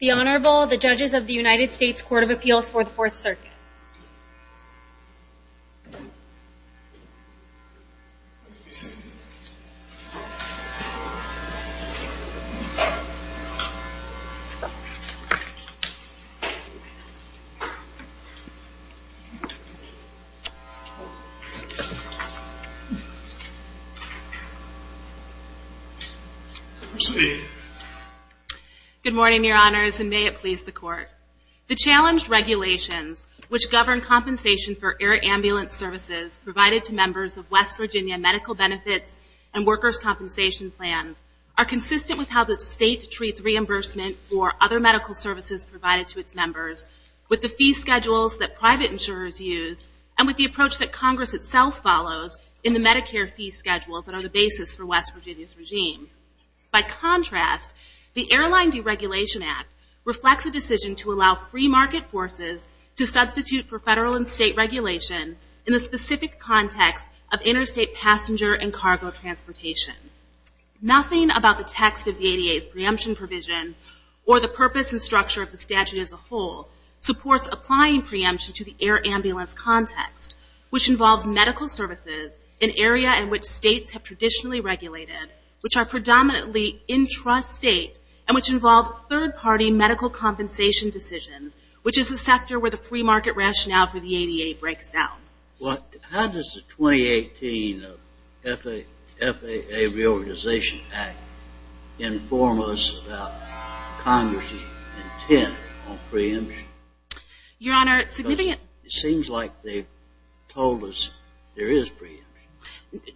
The Honorable, the Judges of the United States Court of Appeals for the Fourth Circuit. Good morning, Your Honors, and may it please the Court. The challenged regulations, which govern compensation for air ambulance services provided to members of West Virginia Medical Benefits and Workers' Compensation Plans, are consistent with how the State treats reimbursement for other medical services provided to its members, with the fee schedules that private insurers use, and with the approach that Congress itself follows in the Medicare fee schedules that are the basis for West Virginia's regime. By contrast, the Airline Deregulation Act reflects a decision to allow free market forces to substitute for federal and state regulation in the specific context of interstate passenger and cargo transportation. Nothing about the text of the ADA's preemption provision, or the purpose and structure of the statute as a whole, supports applying preemption to the area in which states have traditionally regulated, which are predominantly intrastate, and which involve third-party medical compensation decisions, which is the sector where the free market rationale for the ADA breaks down. How does the 2018 FAA Reorganization Act inform us about Congress's intent on preemption? Your Honor, it seems like they told us there is preemption.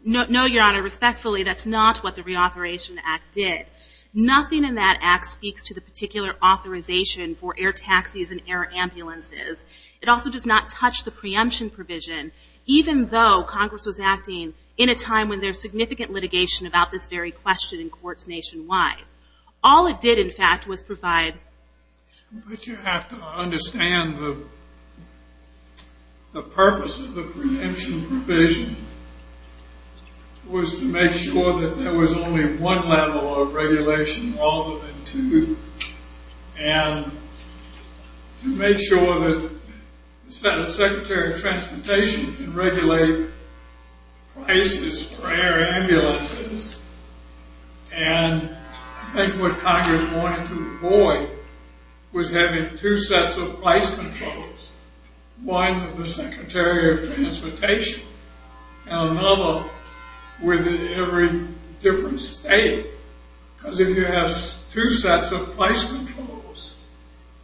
No, Your Honor. Respectfully, that's not what the Reauthorization Act did. Nothing in that act speaks to the particular authorization for air taxis and air ambulances. It also does not touch the preemption provision, even though Congress was acting in a time when there's significant litigation about this very question in courts nationwide. All it did, in fact, was provide... But you have to understand the purpose of the preemption provision was to make sure that there was only one level of regulation, rather than two, and to make sure that the Secretary of Transportation can regulate prices for air ambulances, and I think what Congress wanted to avoid was having two sets of price controls. One with the Secretary of Transportation, and another with every different state, because if you have two sets of price controls,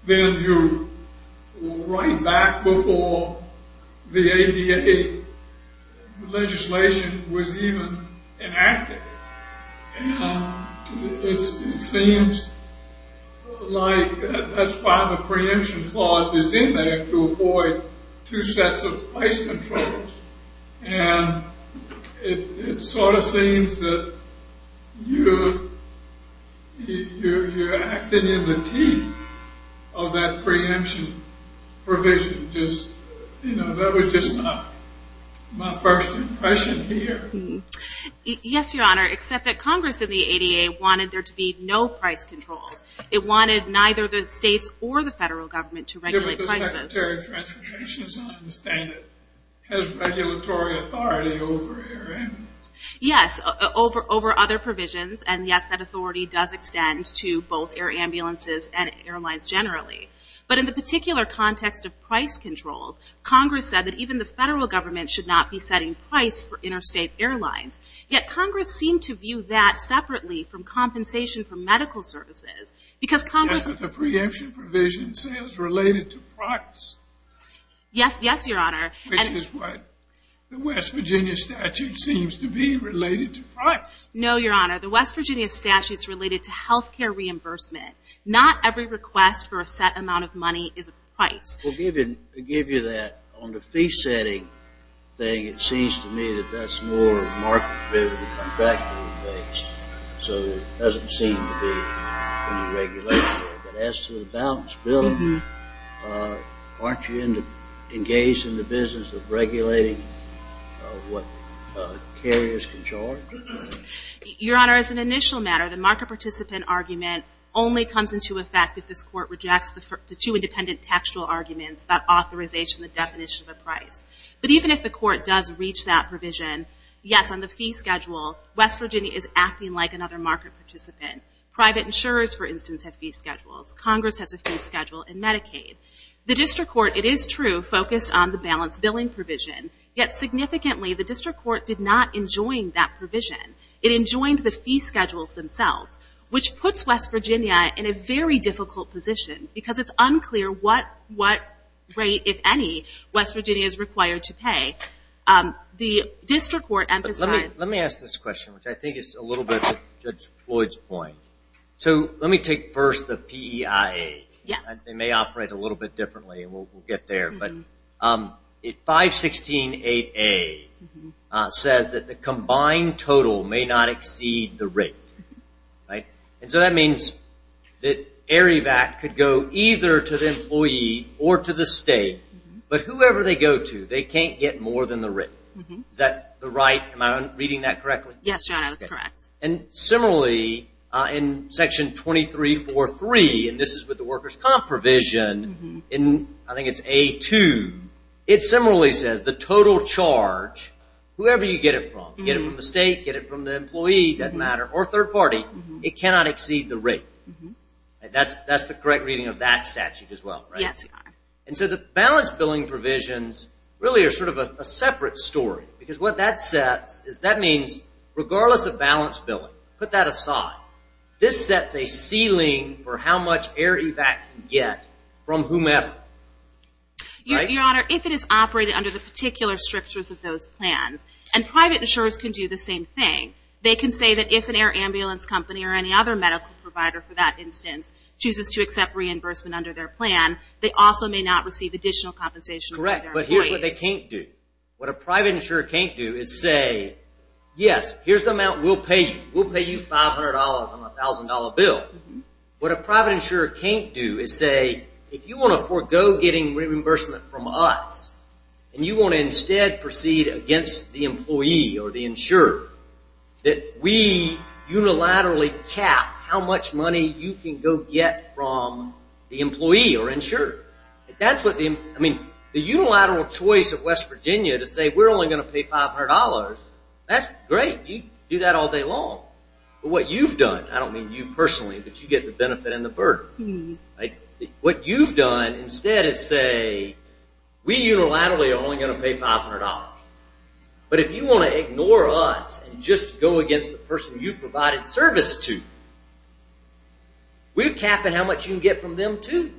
then you're right back before the ADA legislation was even enacted. And it seems like that's why the preemption clause is in there, to avoid two sets of price controls. And it sort of seems that you're acting in the teeth of that preemption provision. That was just my first impression here. Yes, Your Honor, except that Congress in the ADA wanted there to be no price controls. It wanted neither the states or the federal government to regulate prices. The Secretary of Transportation is not understanding it. He has regulatory authority over air ambulances. Yes, over other provisions, and yes, that authority does extend to both air ambulances and airlines generally. But in the particular context of price controls, Congress said that even the federal government should not be setting price for interstate airlines. Yet Congress seemed to view that separately from compensation for medical services, because Congress... Is the preemption provision sales related to price? Yes, yes, Your Honor. Which is what the West Virginia statute seems to be related to price. No, Your Honor. The West Virginia statute's related to health care reimbursement. Not every request for a set amount of money is a price. Well, to give you that, on the fee setting thing, it seems to me that that's more market participant argument only comes into effect if this Court rejects the two independent textual arguments about authorization and the definition of a price. But even if the is acting like another market participant. Private insurers, for instance, have fee schedules. Congress has a fee schedule in Medicaid. The district court, it is true, focused on the balanced billing provision. Yet significantly, the district court did not enjoin that provision. It enjoined the fee schedules themselves, which puts West Virginia in a very difficult position, because it's unclear what rate, if any, West Virginia is required to pay. The district court emphasized... Let me ask this question, which I think is a little bit of Judge Floyd's point. So let me take first the PEIA. They may operate a little bit differently, and we'll get there. But 516.8A says that the combined total may not exceed the rate. And so that means that Arivac could go either to the employee or to the state, but whoever they go to, they can't get more than the rate. Is that right? Am I reading that correctly? Yes, John, that's correct. And similarly, in Section 2343, and this is with the workers' comp provision, I think it's A2, it similarly says the total charge, whoever you get it from, get it from the state, get it from the employee, doesn't matter, or third party, it cannot exceed the rate. That's the correct reading of that statute as well, right? Yes, Your Honor. And so the balance billing provisions really are sort of a separate story, because what that says is that means regardless of balance billing, put that aside, this sets a ceiling for how much Arivac can get from whomever, right? Your Honor, if it is operated under the particular strictures of those plans, and private insurers can do the same thing, they can say that if an air ambulance company or any other medical provider, for that instance, chooses to accept reimbursement under their plan, they also may not receive additional compensation from their employees. Correct, but here's what they can't do. What a private insurer can't do is say, yes, here's the amount we'll pay you. We'll pay you $500 on a $1,000 bill. What a private insurer can't do is say, if you want to forego getting reimbursement from us, and you want to instead proceed against the employee or the insurer, that we unilaterally cap how much money you can go get from the employee or insurer. That's what the, I mean, the unilateral choice of West Virginia to say, we're only going to pay $500, that's great. You can do that all day long. But what you've done, I don't mean you personally, but you get the benefit and the burden. What you've done instead is say, we unilaterally are only going to pay $500. But if you want to ignore us and just go against the person you provided service to, we're capping how much you can get from them too.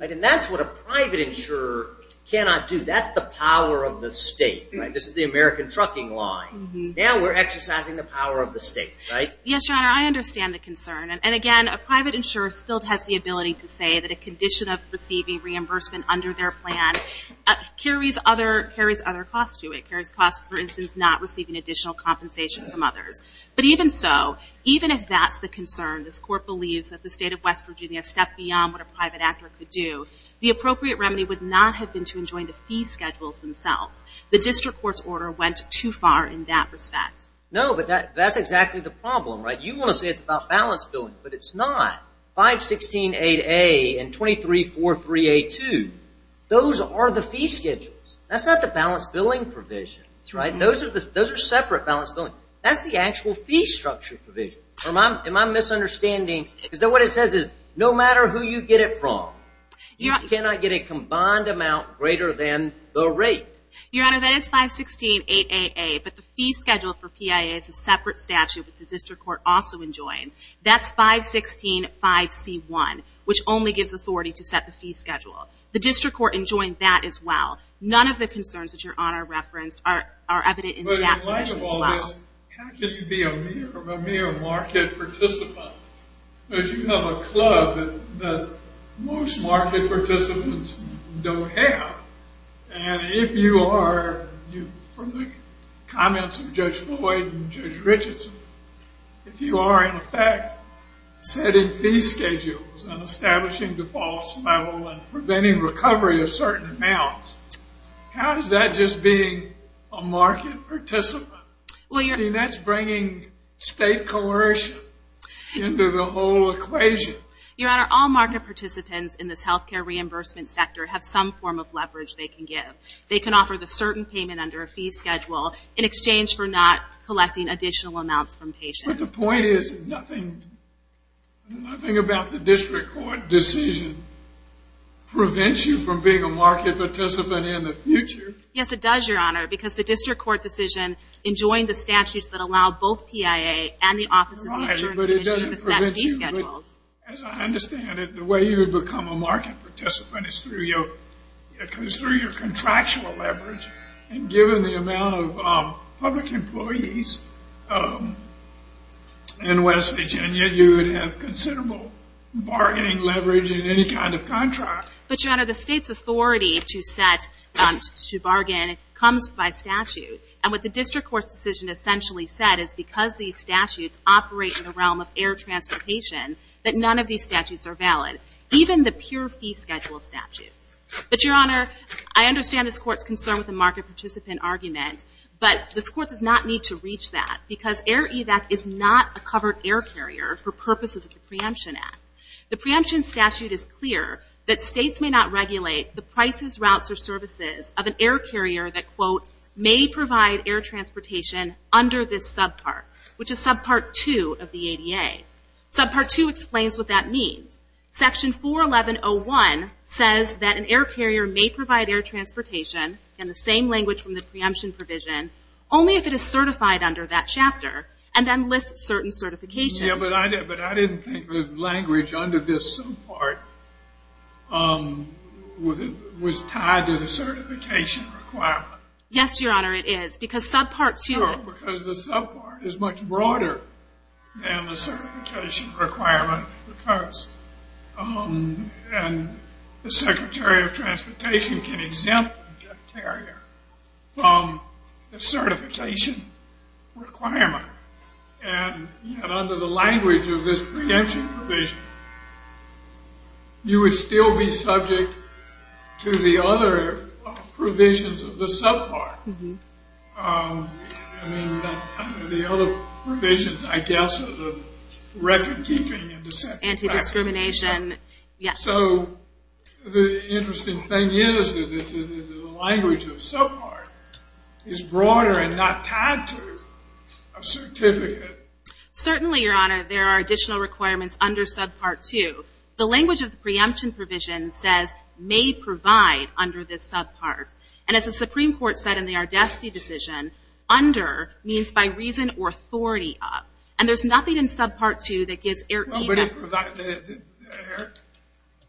And that's what a private insurer cannot do. That's the power of the state. This is the American trucking line. Now we're exercising the power of the state, right? Yes, Your Honor, I understand the concern. And again, a private insurer still has the ability to say that a condition of receiving reimbursement under their plan carries other costs to it. It carries costs, for instance, not receiving additional compensation from others. But even so, even if that's the concern, this court believes that the state of West Virginia stepped beyond what a private actor could do, the appropriate remedy would not have been to enjoin the fee schedules themselves. The district court's order went too far in that respect. No, but that's exactly the problem, right? You want to say it's about balance billing, but it's not. 516-8A and 2343-A2, those are the fee schedules. That's not the balance billing provisions, right? Those are separate balance billing. That's the actual fee structure provision. Am I misunderstanding? Is that what it says is no matter who you get it from, you cannot get a combined amount greater than the rate. Your Honor, that is 516-8AA, but the fee schedule for PIA is a separate statute, which the district court also enjoined. That's 516-5C1, which only gives authority to set the fee schedule. The district court enjoined that as well. None of the concerns that Your Honor referenced are evident in that provision as well. But in light of all this, how can you be a mere market participant? Because you have a club that most market participants don't have. And if you are, from the comments of Judge Floyd and Judge Richardson, if you are in fact setting fee schedules and establishing defaults level and preventing recovery of certain amounts, how is that just being a state coercion into the whole equation? Your Honor, all market participants in this health care reimbursement sector have some form of leverage they can give. They can offer the certain payment under a fee schedule in exchange for not collecting additional amounts from patients. But the point is, nothing about the district court decision prevents you from being a market participant in the future? Yes, it does, Your Honor, because the district court decision enjoined the statutes that allow both PIA and the Office of the Insurance Commission to set fee schedules. As I understand it, the way you would become a market participant is through your contractual leverage. And given the amount of public employees in West Virginia, you would have considerable bargaining leverage in any kind of contract. But Your Honor, the state's authority to set, to bargain, comes by statute. And what the court has said is because these statutes operate in the realm of air transportation, that none of these statutes are valid, even the pure fee schedule statutes. But Your Honor, I understand this court's concern with the market participant argument, but this court does not need to reach that because Air Evac is not a covered air carrier for purposes of the preemption act. The preemption statute is clear that states may not regulate the prices, routes, or services of an air carrier that, quote, may provide air transportation under this subpart, which is subpart two of the ADA. Subpart two explains what that means. Section 411.01 says that an air carrier may provide air transportation in the same language from the preemption provision, only if it is certified under that chapter, and then lists certain certifications. Yeah, but I didn't think the language under this subpart was tied to the certification requirement. Yes, Your Honor, it is. Because subpart two... No, because the subpart is much broader than the certification requirement because the Secretary of Transportation can exempt an air carrier from the certification requirement. And yet under the language of this preemption provision, you would still be subject to the other provisions of the subpart. I mean, the other provisions, I guess, are the record keeping and the... Anti-discrimination, yes. So the interesting thing is that the language of subpart is broader and not tied to a certificate. Certainly, Your Honor, there are additional requirements under subpart two. The language of the preemption provision says, may provide under this subpart. And as the Supreme Court said in the Ardesti decision, under means by reason or authority of. And there's nothing in subpart two that gives air evac... Nobody provided air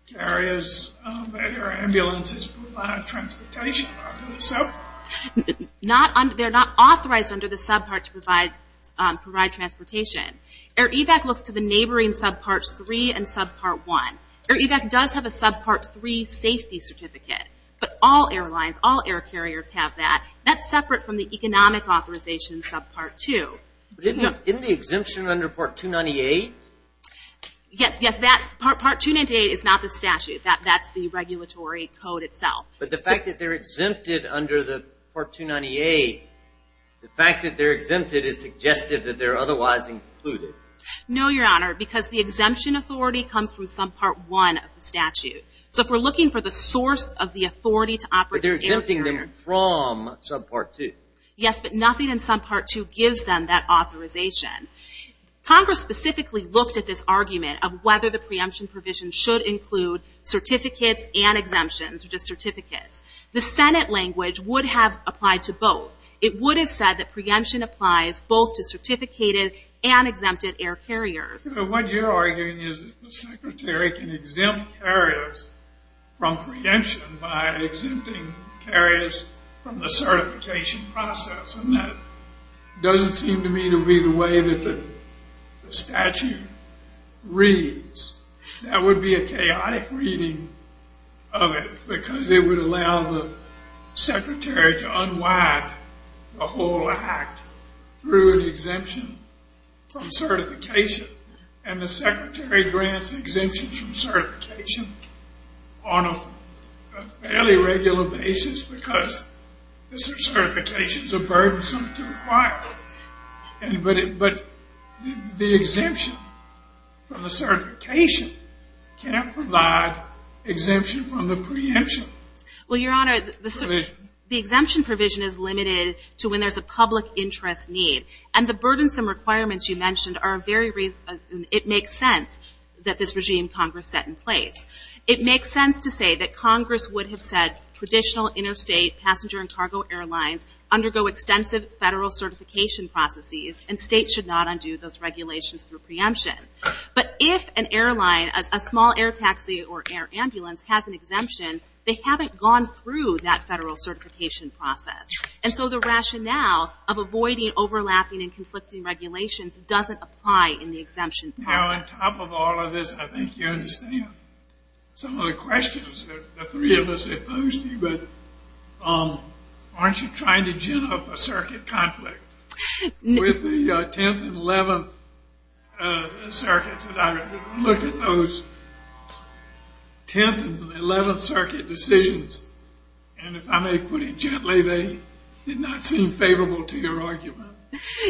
carriers, air ambulances, provide transportation under the sub... They're not authorized under the subpart to provide transportation. Air evac looks to the neighboring subparts three and subpart one. Air evac does have a subpart three safety certificate. But all airlines, all air carriers have that. That's separate from the economic authorization subpart two. But isn't the exemption under part 298? Yes, yes. Part 298 is not the statute. That's the regulatory code itself. But the fact that they're exempted under the part 298, the fact that they're No, Your Honor, because the exemption authority comes from subpart one of the statute. So if we're looking for the source of the authority to operate... But they're exempting them from subpart two. Yes, but nothing in subpart two gives them that authorization. Congress specifically looked at this argument of whether the preemption provision should include certificates and exemptions or just certificates. The Senate language would have applied to both. It would have said that preemption applies both to certificated and exempted air carriers. What you're arguing is that the secretary can exempt carriers from preemption by exempting carriers from the certification process. And that doesn't seem to me to be the way that the statute reads. That would be a chaotic reading of it because it would allow the secretary to unwind the whole act through an exemption from certification. And the secretary grants exemptions from certification on a fairly regular basis because certifications are burdensome to acquire. But the exemption from the preemption... Well, Your Honor, the exemption provision is limited to when there's a public interest need. And the burdensome requirements you mentioned are very reasonable and it makes sense that this regime Congress set in place. It makes sense to say that Congress would have said traditional interstate passenger and cargo airlines undergo extensive Federal certification processes and States should not undo those exemption, they haven't gone through that Federal certification process. And so the rationale of avoiding overlapping and conflicting regulations doesn't apply in the exemption process. Now, on top of all of this, I think you understand some of the questions that the three of us have posed to you. But aren't you trying to gin up a circuit conflict? With the 10th and 11th circuits, look at those 10th and 11th circuit decisions. And if I may put it gently, they did not seem favorable to your argument.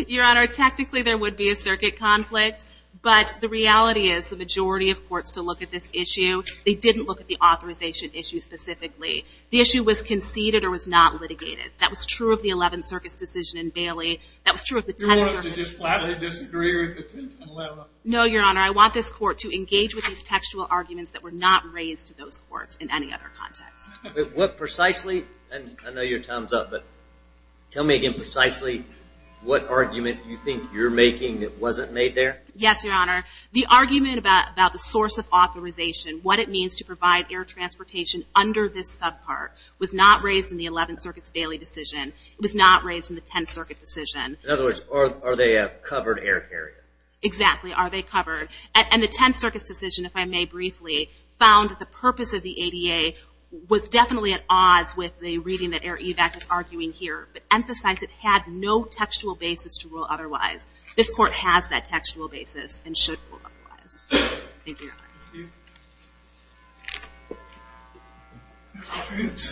Your Honor, technically there would be a circuit conflict, but the reality is the majority of courts to look at this issue, they didn't look at the authorization issue specifically. The issue was conceded or was not litigated. That was true of the 11th circuit's decision in Bailey. That was true of the 10th circuit. You want us to just flatly disagree with the 10th and 11th? No, Your Honor. I want this court to engage with these textual arguments that were not raised to those courts in any other context. But what precisely, and I know your time's up, but tell me again precisely what argument you think you're making that wasn't made there? Yes, Your Honor. The argument about the source of authorization, what it means to provide air transportation under this subpart, was not raised in the 11th circuit's Bailey decision. It was not raised in the 10th circuit decision. In other words, are they a covered air carrier? Exactly. Are they covered? And the 10th circuit's decision, if I may briefly, found that the purpose of the ADA was definitely at odds with the reading that Air Evac is arguing here, but emphasized it had no textual basis to rule otherwise. This court has that textual basis and should rule otherwise. Thank you, Your Honor. Excuse me.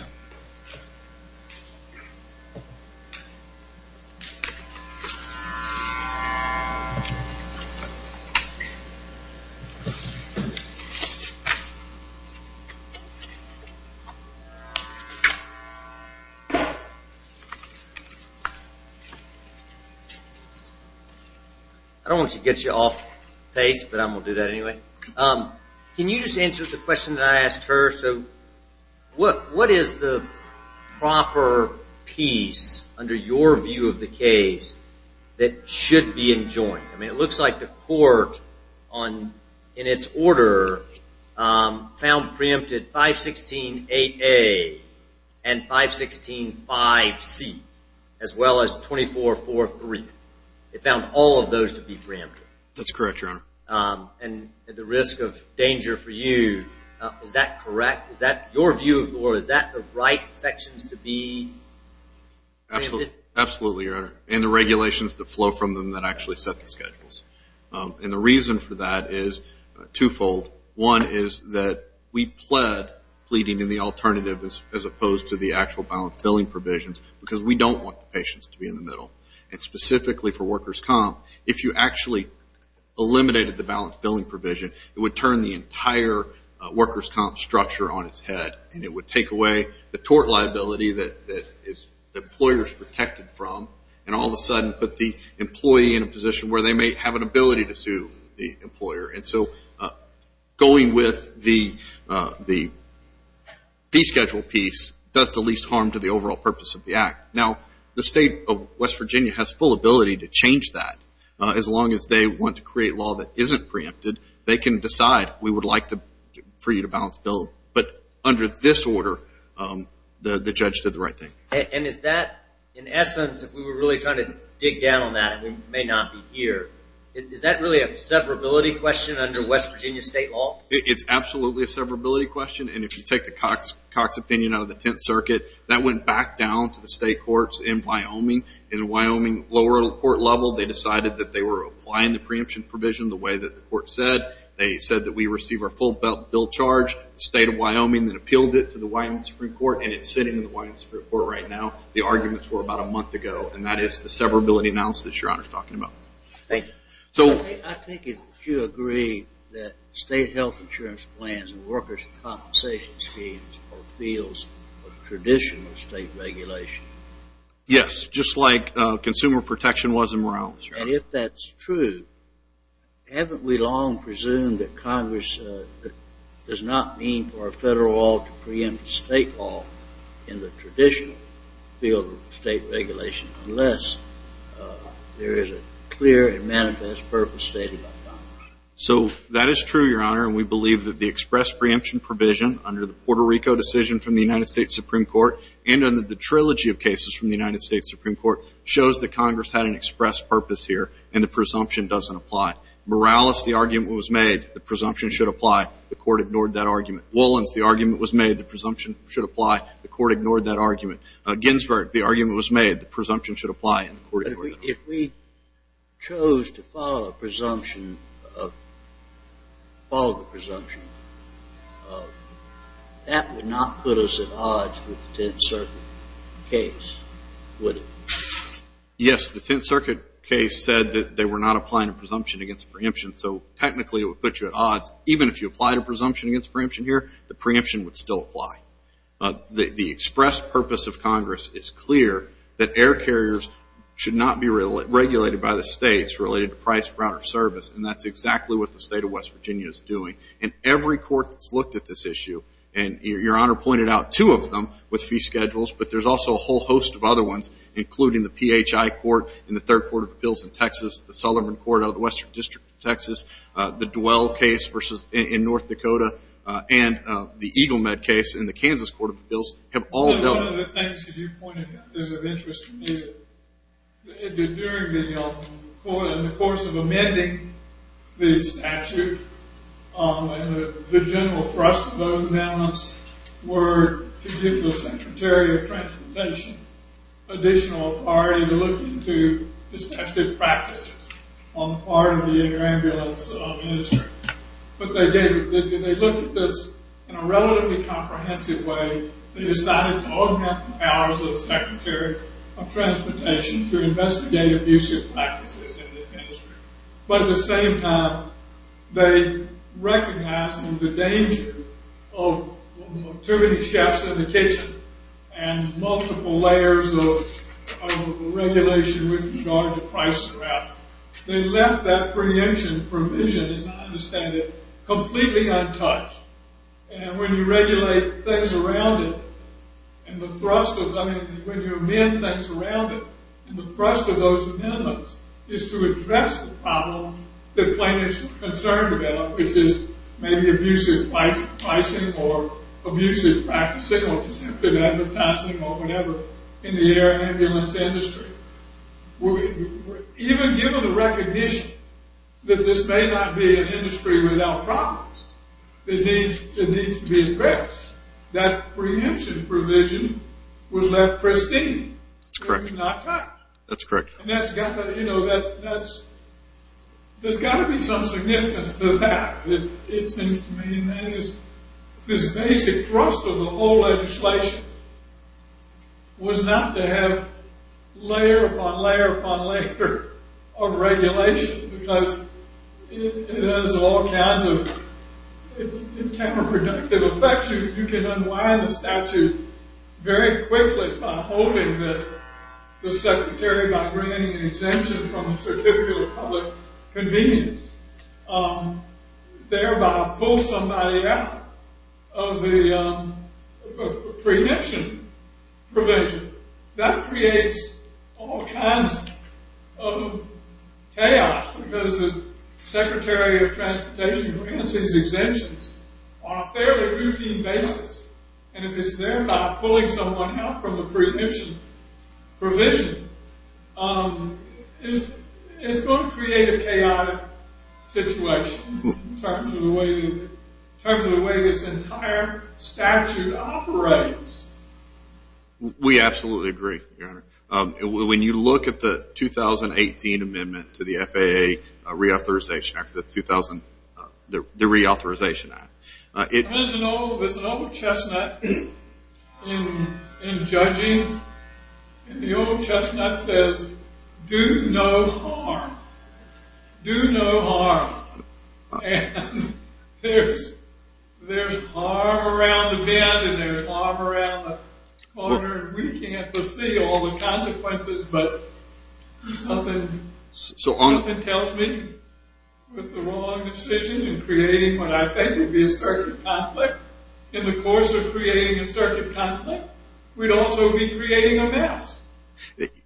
I don't want to get you off pace, but I'm going to do that anyway. Can you just answer the question that I asked her? What is the proper piece, under your view of the case, that should be enjoined? It looks like the court, in its order, found preempted 516-AA and 516-5C, as well as 24-43. It found all of those to be preempted. That's correct, Your Honor. And at the risk of danger for you, is that correct? Is that your view, or is that the right sections to be preempted? Absolutely, Your Honor. And the regulations that flow from them that actually set the schedules. And the reason for that is twofold. One is that we pled pleading in the alternative, as opposed to the actual balance billing provisions, because we don't want the patients to be in the middle. And specifically for workers' comp, if you actually eliminated the balance billing provision, it would turn the entire workers' comp structure on its head, and it would take away the tort liability that the employer is protected from, and all of a sudden put the employee in a position where they may have an ability to sue the employer. And so going with the descheduled piece does the least harm to the overall purpose of the act. Now the state of West Virginia has full ability to change that. As long as they want to create law that isn't preempted, they can decide we would like for you to balance bill. But under this order, the judge did the right thing. And is that, in essence, if we were really trying to dig down on that and we may not be here, is that really a severability question under West Virginia state law? It's absolutely a severability question. And if you take the Cox opinion out of the Tenth Circuit, that went back down to the state courts in Wyoming. In the Wyoming lower court level, they decided that they were applying the preemption provision the way that the court said. They said that we receive our full bill charged. The state of Wyoming then appealed it to the Wyoming Supreme Court, and it's sitting in the Wyoming Supreme Court right now. The arguments were about a month ago, and that is the severability analysis that your Honor is talking about. Thank you. I think if you agree that state health insurance plans and workers' compensation schemes are fields of traditional state regulation. Yes, just like consumer protection was in Morales. And if that's true, haven't we long presumed that Congress does not mean for a federal law to preempt a state law in the traditional field of state regulation, unless there is a clear and manifest purpose stated by Congress? So that is true, Your Honor. And we believe that the express preemption provision under the Puerto Rico decision from the United States Supreme Court and under the trilogy of cases from the United States Supreme Court shows that Congress had an express purpose here, and the presumption doesn't apply. Morales, the argument was made. The presumption should apply. The court ignored that argument. Wolins, the argument was made. The presumption should apply. The court ignored that argument. Ginsberg, the argument was made. The presumption should apply. But if we chose to follow a presumption, follow the presumption, that would not put us at odds with the Tenth Circuit case, would it? Yes, the Tenth Circuit case said that they were not applying a presumption against a preemption, so technically it would put you at odds. Even if you applied a presumption against a preemption here, the preemption would still apply. The express purpose of Congress is clear that air carriers should not be regulated by the states related to price, route, or service, and that's exactly what the state of West Virginia is doing. And every court that's looked at this issue, and Your Honor pointed out two of them with fee schedules, but there's also a whole host of other ones, including the PHI Court in the Third Court of Appeals in Texas, the Sullivan Court out of the Western District of Texas, the Dwell case in North Dakota, and the Eagle Med case in the Kansas Court of Appeals have all dealt with. One of the things that you pointed out is of interest to me. During the court, in the course of amending the statute, the general thrust of those amendments were to give the Secretary of Transportation additional authority to look into the statute of practices on the part of the air ambulance industry. But they did. They looked at this in a relatively comprehensive way. They decided to augment the powers of the Secretary of Transportation to investigate abusive practices in this industry. But at the same time, they recognized the danger of too many chefs in the kitchen and multiple layers of regulation with regard to price and route. They left that preemption provision, as I understand it, completely untouched. And when you regulate things around it, and the thrust of... I mean, when you amend things around it, the thrust of those amendments is to address the problem that plenty is concerned about, which is maybe abusive pricing or abusive practicing or deceptive advertising or whatever in the air ambulance industry. Even given the recognition that this may not be an industry without problems, it needs to be addressed, that preemption provision was left pristine. That's correct. It was not touched. That's correct. There's got to be some significance to that. It seems to me that this basic thrust of the whole legislation was not to have layer upon layer upon layer of regulation because it has all kinds of counterproductive effects. You can unwind a statute very quickly by holding the secretary by bringing an exemption from a certificate of public convenience, thereby pull somebody out of the preemption provision. That creates all kinds of chaos because the secretary of transportation grants these exemptions on a fairly routine basis, and if it's thereby pulling someone out from the preemption provision, it's going to create a chaotic situation in terms of the way this entire statute operates. We absolutely agree, Your Honor. When you look at the 2018 amendment to the FAA Reauthorization Act, the Reauthorization Act, it... There's an old chestnut in judging. The old chestnut says, Do no harm. Do no harm. And there's harm around the bend and there's harm around the corner, and we can't foresee all the consequences, but something tells me with the wrong decision in creating what I think would be a circuit conflict, in the course of creating a circuit conflict, we'd also be creating a mess.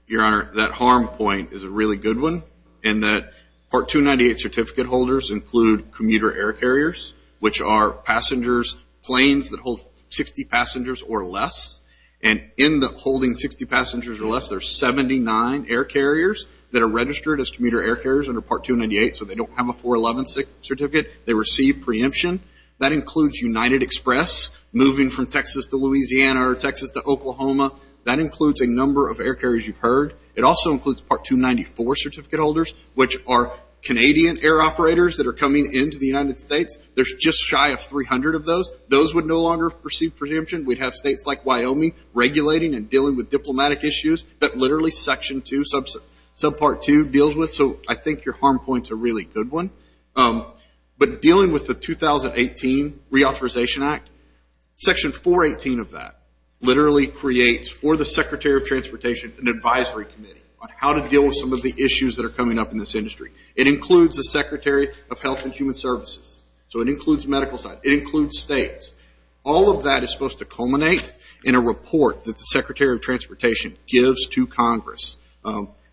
Your Honor, that harm point is a really good one in that Part 298 certificate holders include commuter air carriers, which are passengers, planes that hold 60 passengers or less, and in the holding 60 passengers or less, there's 79 air carriers that are registered as commuter air carriers under Part 298, so they don't have a 411 certificate. They receive preemption. That includes United Express moving from Texas to Louisiana or Texas to Oklahoma. That includes a number of air carriers you've heard. It also includes Part 294 certificate holders, which are Canadian air operators that are coming into the United States. There's just shy of 300 of those. Those would no longer receive preemption. We'd have states like Wyoming regulating and dealing with diplomatic issues that literally Section 2, Subpart 2, deals with, so I think your harm point's a really good one. But dealing with the 2018 Reauthorization Act, Section 418 of that literally creates for the Secretary of Transportation an advisory committee on how to deal with some of the issues that are coming up in this industry. It includes the Secretary of Health and Human Services, so it includes the medical side. It includes states. All of that is supposed to culminate in a report that the Secretary of Transportation gives to Congress,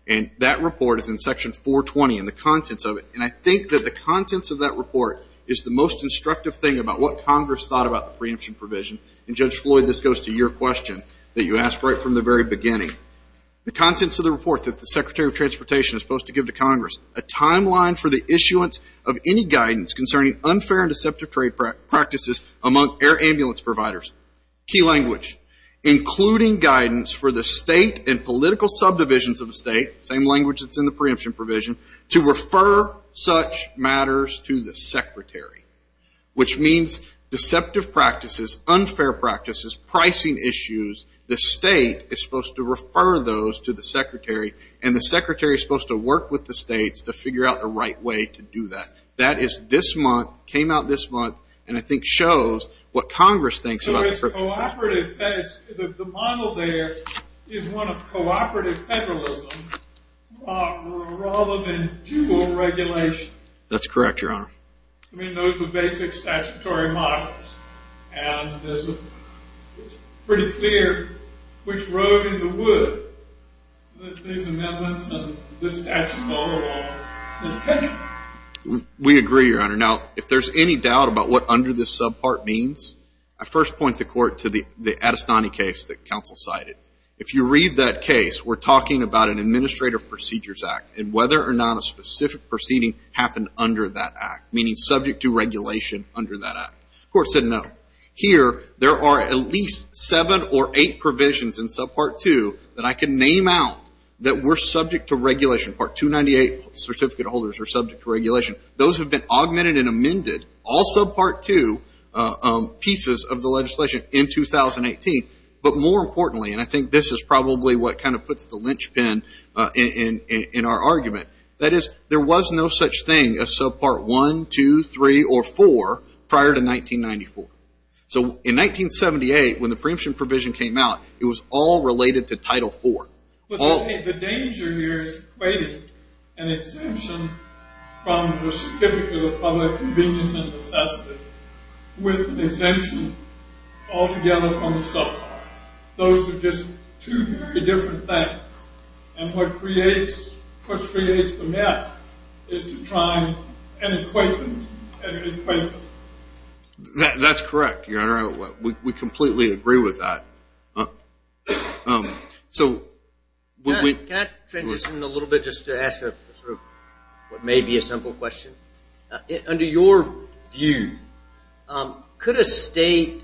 and that report is in Section 420 and the contents of it, and I think that the contents of that report is the most instructive thing about what Congress thought about the preemption provision, and Judge Floyd, this goes to your question that you asked right from the very beginning. The contents of the report that the Secretary of Transportation is supposed to give to Congress, a timeline for the issuance of any guidance concerning unfair and deceptive trade practices among air ambulance providers, key language, including guidance for the state and political subdivisions of the state, same language that's in the preemption provision, to refer such matters to the Secretary, which means deceptive practices, unfair practices, pricing issues, the state is supposed to refer those to the Secretary, and the Secretary is supposed to work with the states to figure out the right way to do that. That is this month, came out this month, and I think shows what Congress thinks about the preemption provision. So it's cooperative. The model there is one of cooperative federalism rather than dual regulation. That's correct, Your Honor. I mean, those are basic statutory models, and it's pretty clear which road in the wood that these amendments and this statute overall is taking. We agree, Your Honor. Now, if there's any doubt about what under this subpart means, I first point the Court to the Adestani case that counsel cited. If you read that case, we're talking about an Administrative Procedures Act and whether or not a specific proceeding happened under that act, meaning subject to regulation under that act. The Court said no. Here, there are at least seven or eight provisions in subpart two that I can name out that were subject to regulation. Part 298, certificate holders are subject to regulation. Those have been augmented and amended, all subpart two pieces of the legislation in 2018. But more importantly, and I think this is probably what kind of puts the linchpin in our argument, that is, there was no such thing as subpart one, two, three, or four prior to 1994. So in 1978, when the preemption provision came out, it was all related to Title IV. The danger here is equating an exemption from the certificate of public convenience and necessity with an exemption altogether from the subpart. Those are just two very different things. And what creates the mess is to try and equate them. That's correct, Your Honor. We completely agree with that. Can I transition a little bit just to ask what may be a simple question? Under your view, could a state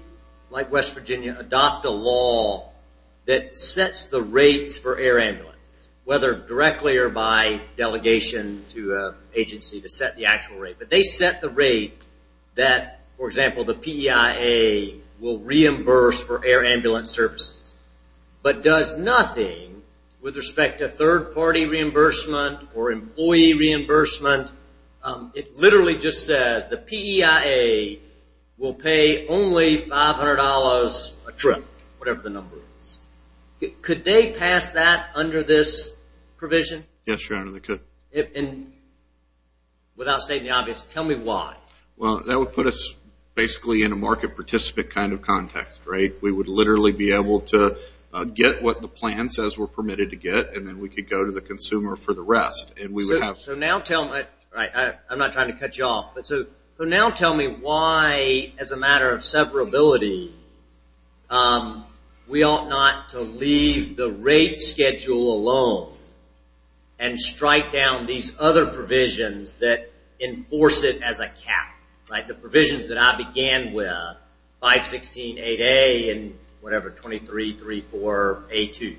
like West Virginia adopt a law that sets the rates for air ambulances, whether directly or by delegation to an agency to set the actual rate? But they set the rate that, for example, the PEIA will reimburse for air ambulance services, but does nothing with respect to third-party reimbursement or employee reimbursement. It literally just says the PEIA will pay only $500 a trip, whatever the number is. Could they pass that under this provision? Yes, Your Honor, they could. Without stating the obvious, tell me why. Well, that would put us basically in a market participant kind of context, right? We would literally be able to get what the plan says we're permitted to get, and then we could go to the consumer for the rest. I'm not trying to cut you off. So now tell me why, as a matter of separability, we ought not to leave the rate schedule alone and strike down these other provisions that enforce it as a cap. The provisions that I began with, 516.8a and whatever, 23.34a2.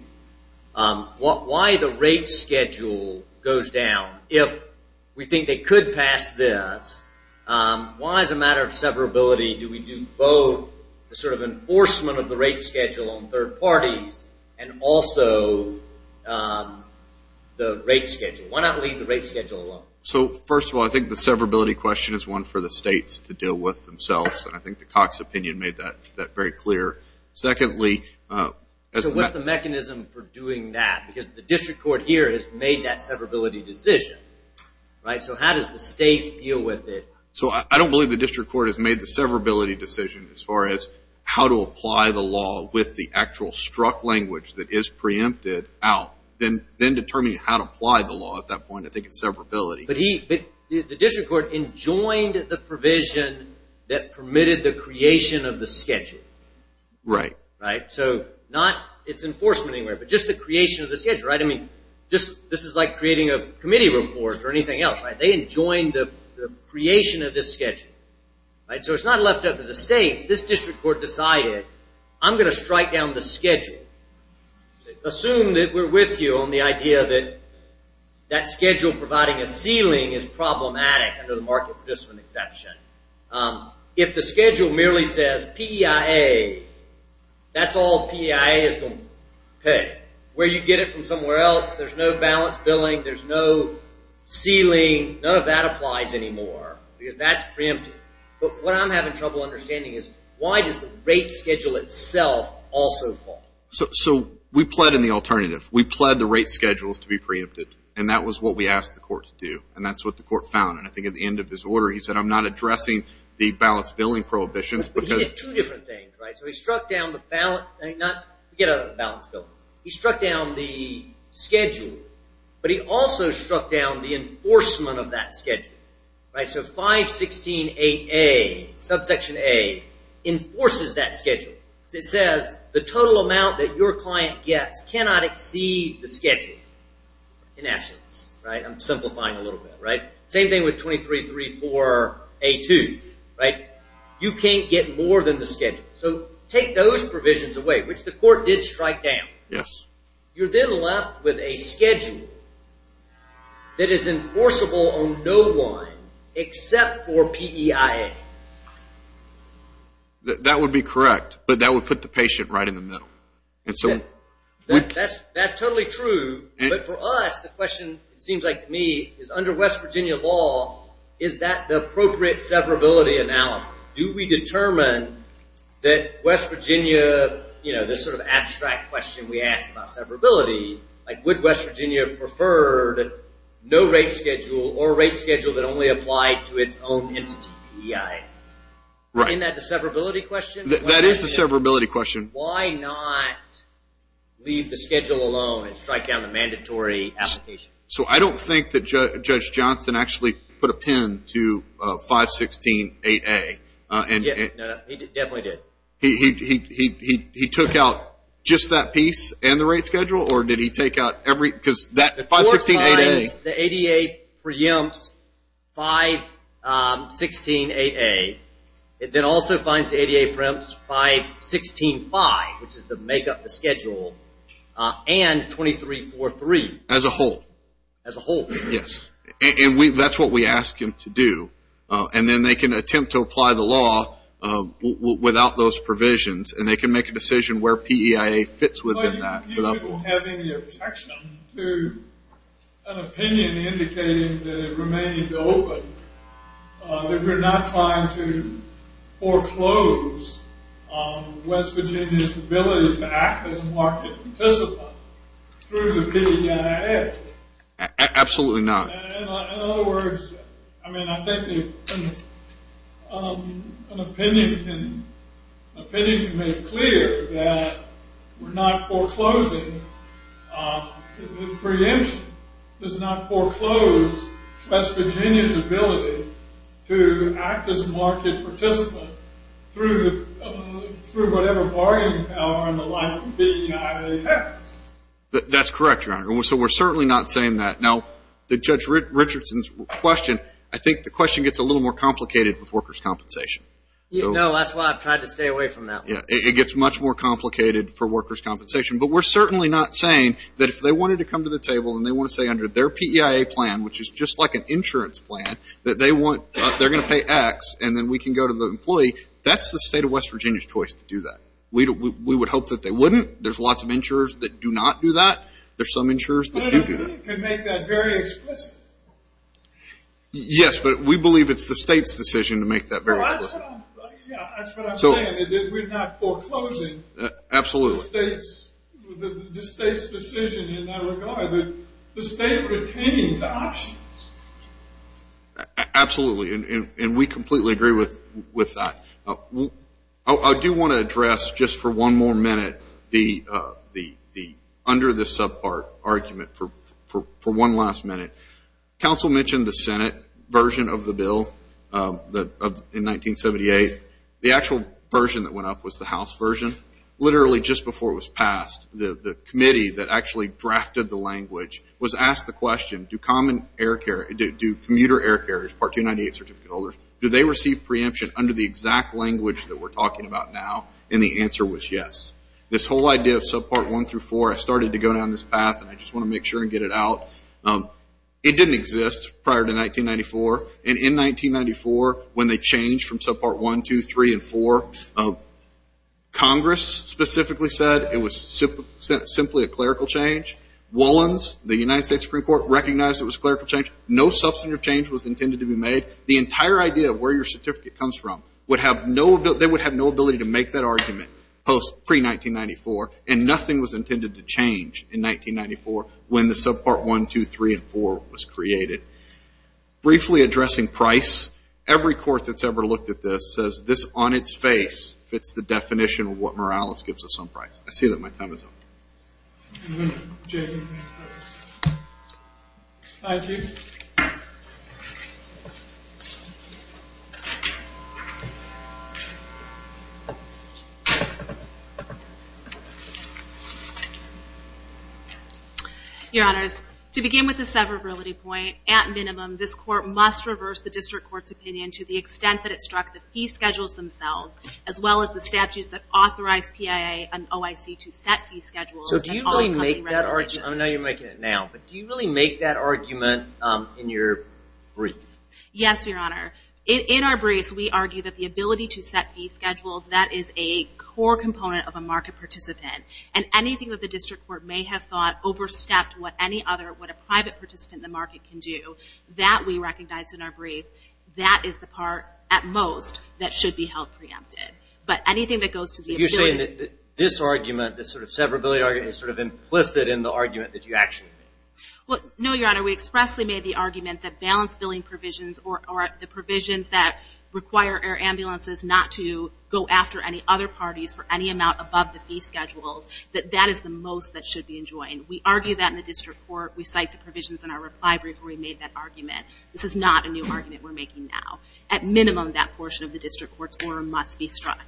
Why the rate schedule goes down? If we think they could pass this, why, as a matter of separability, do we do both the sort of enforcement of the rate schedule on third parties and also the rate schedule? Why not leave the rate schedule alone? So, first of all, I think the separability question is one for the states to deal with themselves, and I think the Cox opinion made that very clear. Secondly, as the mechanism for doing that, because the district court here has made that separability decision, right? So how does the state deal with it? So I don't believe the district court has made the separability decision as far as how to apply the law with the actual struck language that is preempted out, then determining how to apply the law at that point. I think it's separability. But the district court enjoined the provision that permitted the creation of the schedule. Right. Right? So not its enforcement anywhere, but just the creation of the schedule, right? I mean, this is like creating a committee report or anything else, right? They enjoined the creation of this schedule, right? So it's not left up to the states. This district court decided, I'm going to strike down the schedule. Assume that we're with you on the idea that that schedule providing a ceiling is problematic under the market participant exception. If the schedule merely says PEIA, that's all PEIA is going to pay. Where you get it from somewhere else, there's no balance billing, there's no ceiling, none of that applies anymore because that's preempted. But what I'm having trouble understanding is why does the rate schedule itself also fall? So we pled in the alternative. We pled the rate schedules to be preempted, and that was what we asked the court to do, and that's what the court found. And I think at the end of his order, he said, I'm not addressing the balance billing prohibitions because – But he did two different things, right? So he struck down the balance – forget about balance billing. He struck down the schedule, but he also struck down the enforcement of that schedule, right? Section 516.8a, subsection a, enforces that schedule. It says the total amount that your client gets cannot exceed the schedule in essence, right? I'm simplifying a little bit, right? Same thing with 23.34a.2, right? You can't get more than the schedule. So take those provisions away, which the court did strike down. Yes. You're then left with a schedule that is enforceable on no one except for PEIA. That would be correct, but that would put the patient right in the middle. That's totally true, but for us, the question, it seems like to me, is under West Virginia law, is that the appropriate severability analysis? Do we determine that West Virginia, this sort of abstract question we ask about severability, like would West Virginia prefer no rate schedule or a rate schedule that only applied to its own entity, PEIA? Isn't that the severability question? That is the severability question. Why not leave the schedule alone and strike down the mandatory application? So I don't think that Judge Johnson actually put a pin to 516.8a. No, he definitely did. He took out just that piece and the rate schedule, or did he take out every, because that 516.8a. The court finds the ADA preempts 516.8a. It then also finds the ADA preempts 516.5, which is the make up the schedule, and 23.43. As a whole. As a whole. Yes. And that's what we ask him to do. And then they can attempt to apply the law without those provisions, and they can make a decision where PEIA fits within that. Do you people have any objection to an opinion indicating that it remains open, that we're not trying to foreclose West Virginia's ability to act as a market participant through the PEIA Act? Absolutely not. In other words, I mean, I think an opinion can make it clear that we're not foreclosing, the preemption does not foreclose West Virginia's ability to act as a market participant through whatever bargaining power on the line of PEIA. That's correct, Your Honor. So we're certainly not saying that. Now, the Judge Richardson's question, I think the question gets a little more complicated with workers' compensation. No, that's why I've tried to stay away from that one. It gets much more complicated for workers' compensation. But we're certainly not saying that if they wanted to come to the table and they want to say under their PEIA plan, which is just like an insurance plan, that they're going to pay X and then we can go to the employee, that's the state of West Virginia's choice to do that. We would hope that they wouldn't. There's lots of insurers that do not do that. There's some insurers that do do that. But an opinion can make that very explicit. Yes, but we believe it's the state's decision to make that very explicit. That's what I'm saying, that we're not foreclosing the state's decision in that regard. The state pertains to options. Absolutely, and we completely agree with that. I do want to address just for one more minute the under-the-sub part argument for one last minute. Council mentioned the Senate version of the bill in 1978. The actual version that went up was the House version. Literally just before it was passed, the committee that actually drafted the language was asked the question, do commuter air carriers, Part 298 certificate holders, do they receive preemption under the exact language that we're talking about now? And the answer was yes. This whole idea of Subpart 1 through 4, I started to go down this path, and I just want to make sure and get it out. It didn't exist prior to 1994. And in 1994, when they changed from Subpart 1, 2, 3, and 4, Congress specifically said it was simply a clerical change. Wollins, the United States Supreme Court, recognized it was a clerical change. No substantive change was intended to be made. The entire idea of where your certificate comes from, they would have no ability to make that argument pre-1994, and nothing was intended to change in 1994 when the Subpart 1, 2, 3, and 4 was created. Briefly addressing price, every court that's ever looked at this says this on its face fits the definition of what Morales gives us on price. I see that my time is up. I'm going to check in. Hi, Sue. Your Honors, to begin with the severability point, at minimum this court must reverse the district court's opinion to the extent that it struck the fee schedules themselves, as well as the statutes that authorize PIA and OIC to set fee schedules that call company regulations. I know you're making it now, but do you really make that argument in your brief? Yes, Your Honor. In our briefs we argue that the ability to set fee schedules, that is a core component of a market participant, and anything that the district court may have thought overstepped what any other, what a private participant in the market can do, that we recognize in our brief, that is the part at most that should be held preempted. But anything that goes to the ability... is sort of implicit in the argument that you actually made. No, Your Honor. We expressly made the argument that balance billing provisions or the provisions that require air ambulances not to go after any other parties for any amount above the fee schedules, that that is the most that should be enjoined. We argue that in the district court. We cite the provisions in our reply brief where we made that argument. This is not a new argument we're making now. At minimum that portion of the district court's order must be struck.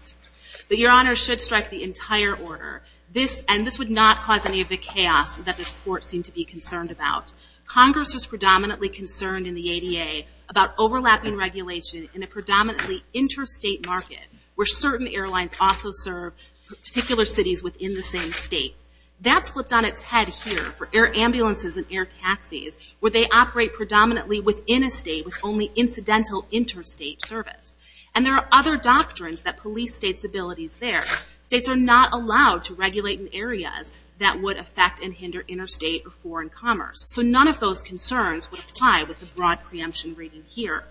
But Your Honor, it should strike the entire order. This, and this would not cause any of the chaos that this court seemed to be concerned about. Congress was predominantly concerned in the ADA about overlapping regulation in a predominantly interstate market where certain airlines also serve particular cities within the same state. That's flipped on its head here for air ambulances and air taxis where they operate predominantly within a state with only incidental interstate service. And there are other doctrines that police states' abilities there. States are not allowed to regulate in areas that would affect and hinder interstate or foreign commerce. So none of those concerns would apply with the broad preemption reading here.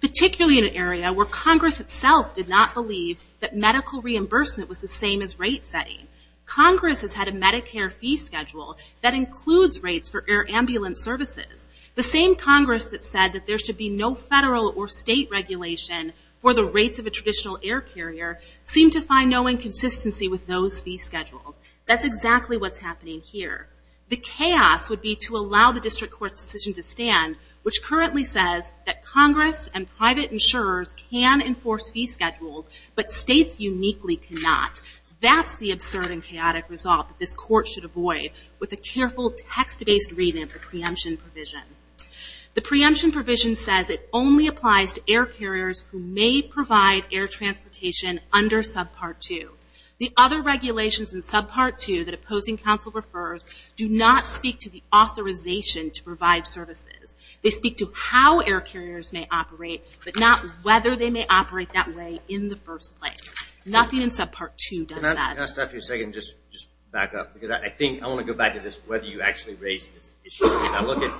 Particularly in an area where Congress itself did not believe that medical reimbursement was the same as rate setting. Congress has had a Medicare fee schedule that includes rates for air ambulance services. The same Congress that said that there should be no federal or state regulation for the rates of a traditional air carrier seemed to find no inconsistency with those fee schedules. That's exactly what's happening here. The chaos would be to allow the district court's decision to stand which currently says that Congress and private insurers can enforce fee schedules but states uniquely cannot. That's the absurd and chaotic result that this court should avoid with a careful text-based reading of the preemption provision. The preemption provision says it only applies to air carriers who may provide air transportation under subpart 2. The other regulations in subpart 2 that opposing counsel refers do not speak to the authorization to provide services. They speak to how air carriers may operate but not whether they may operate that way in the first place. Nothing in subpart 2 does that. Can I stop you for a second and just back up? I want to go back to whether you actually raised this issue. I look at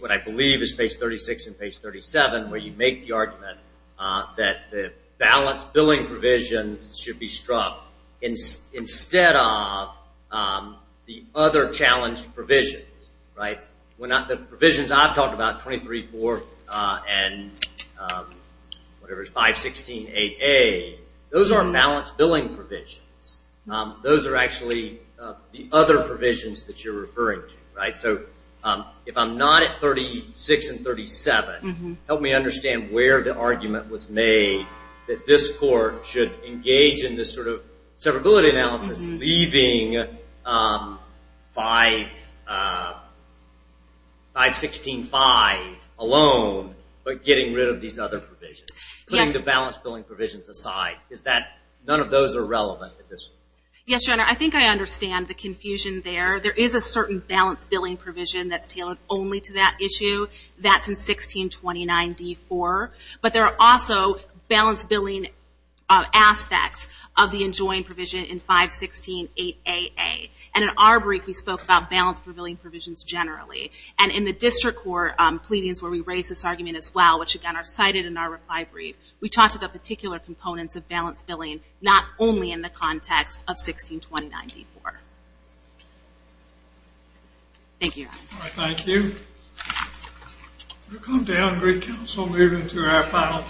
what I believe is page 36 and page 37 where you make the argument that the balanced billing provisions should be struck instead of the other challenged provisions. The provisions I've talked about, 23.4 and 516.8a, those are balanced billing provisions. Those are actually the other provisions that you're referring to. If I'm not at 36 and 37, help me understand where the argument was made that this court should engage in this sort of severability analysis leaving 516.5 alone but getting rid of these other provisions, putting the balanced billing provisions aside. None of those are relevant at this point. Yes, John, I think I understand the confusion there. There is a certain balanced billing provision that's tailored only to that issue. That's in 1629.d.4. But there are also balanced billing aspects of the enjoined provision in 516.8a.a. In our brief, we spoke about balanced billing provisions generally. In the district court pleadings where we raised this argument as well, which again are cited in our reply brief, we talked about particular components of balanced billing, not only in the context of 1629.d.4. Thank you, guys. Thank you. We'll come down and bring counsel later into our final case.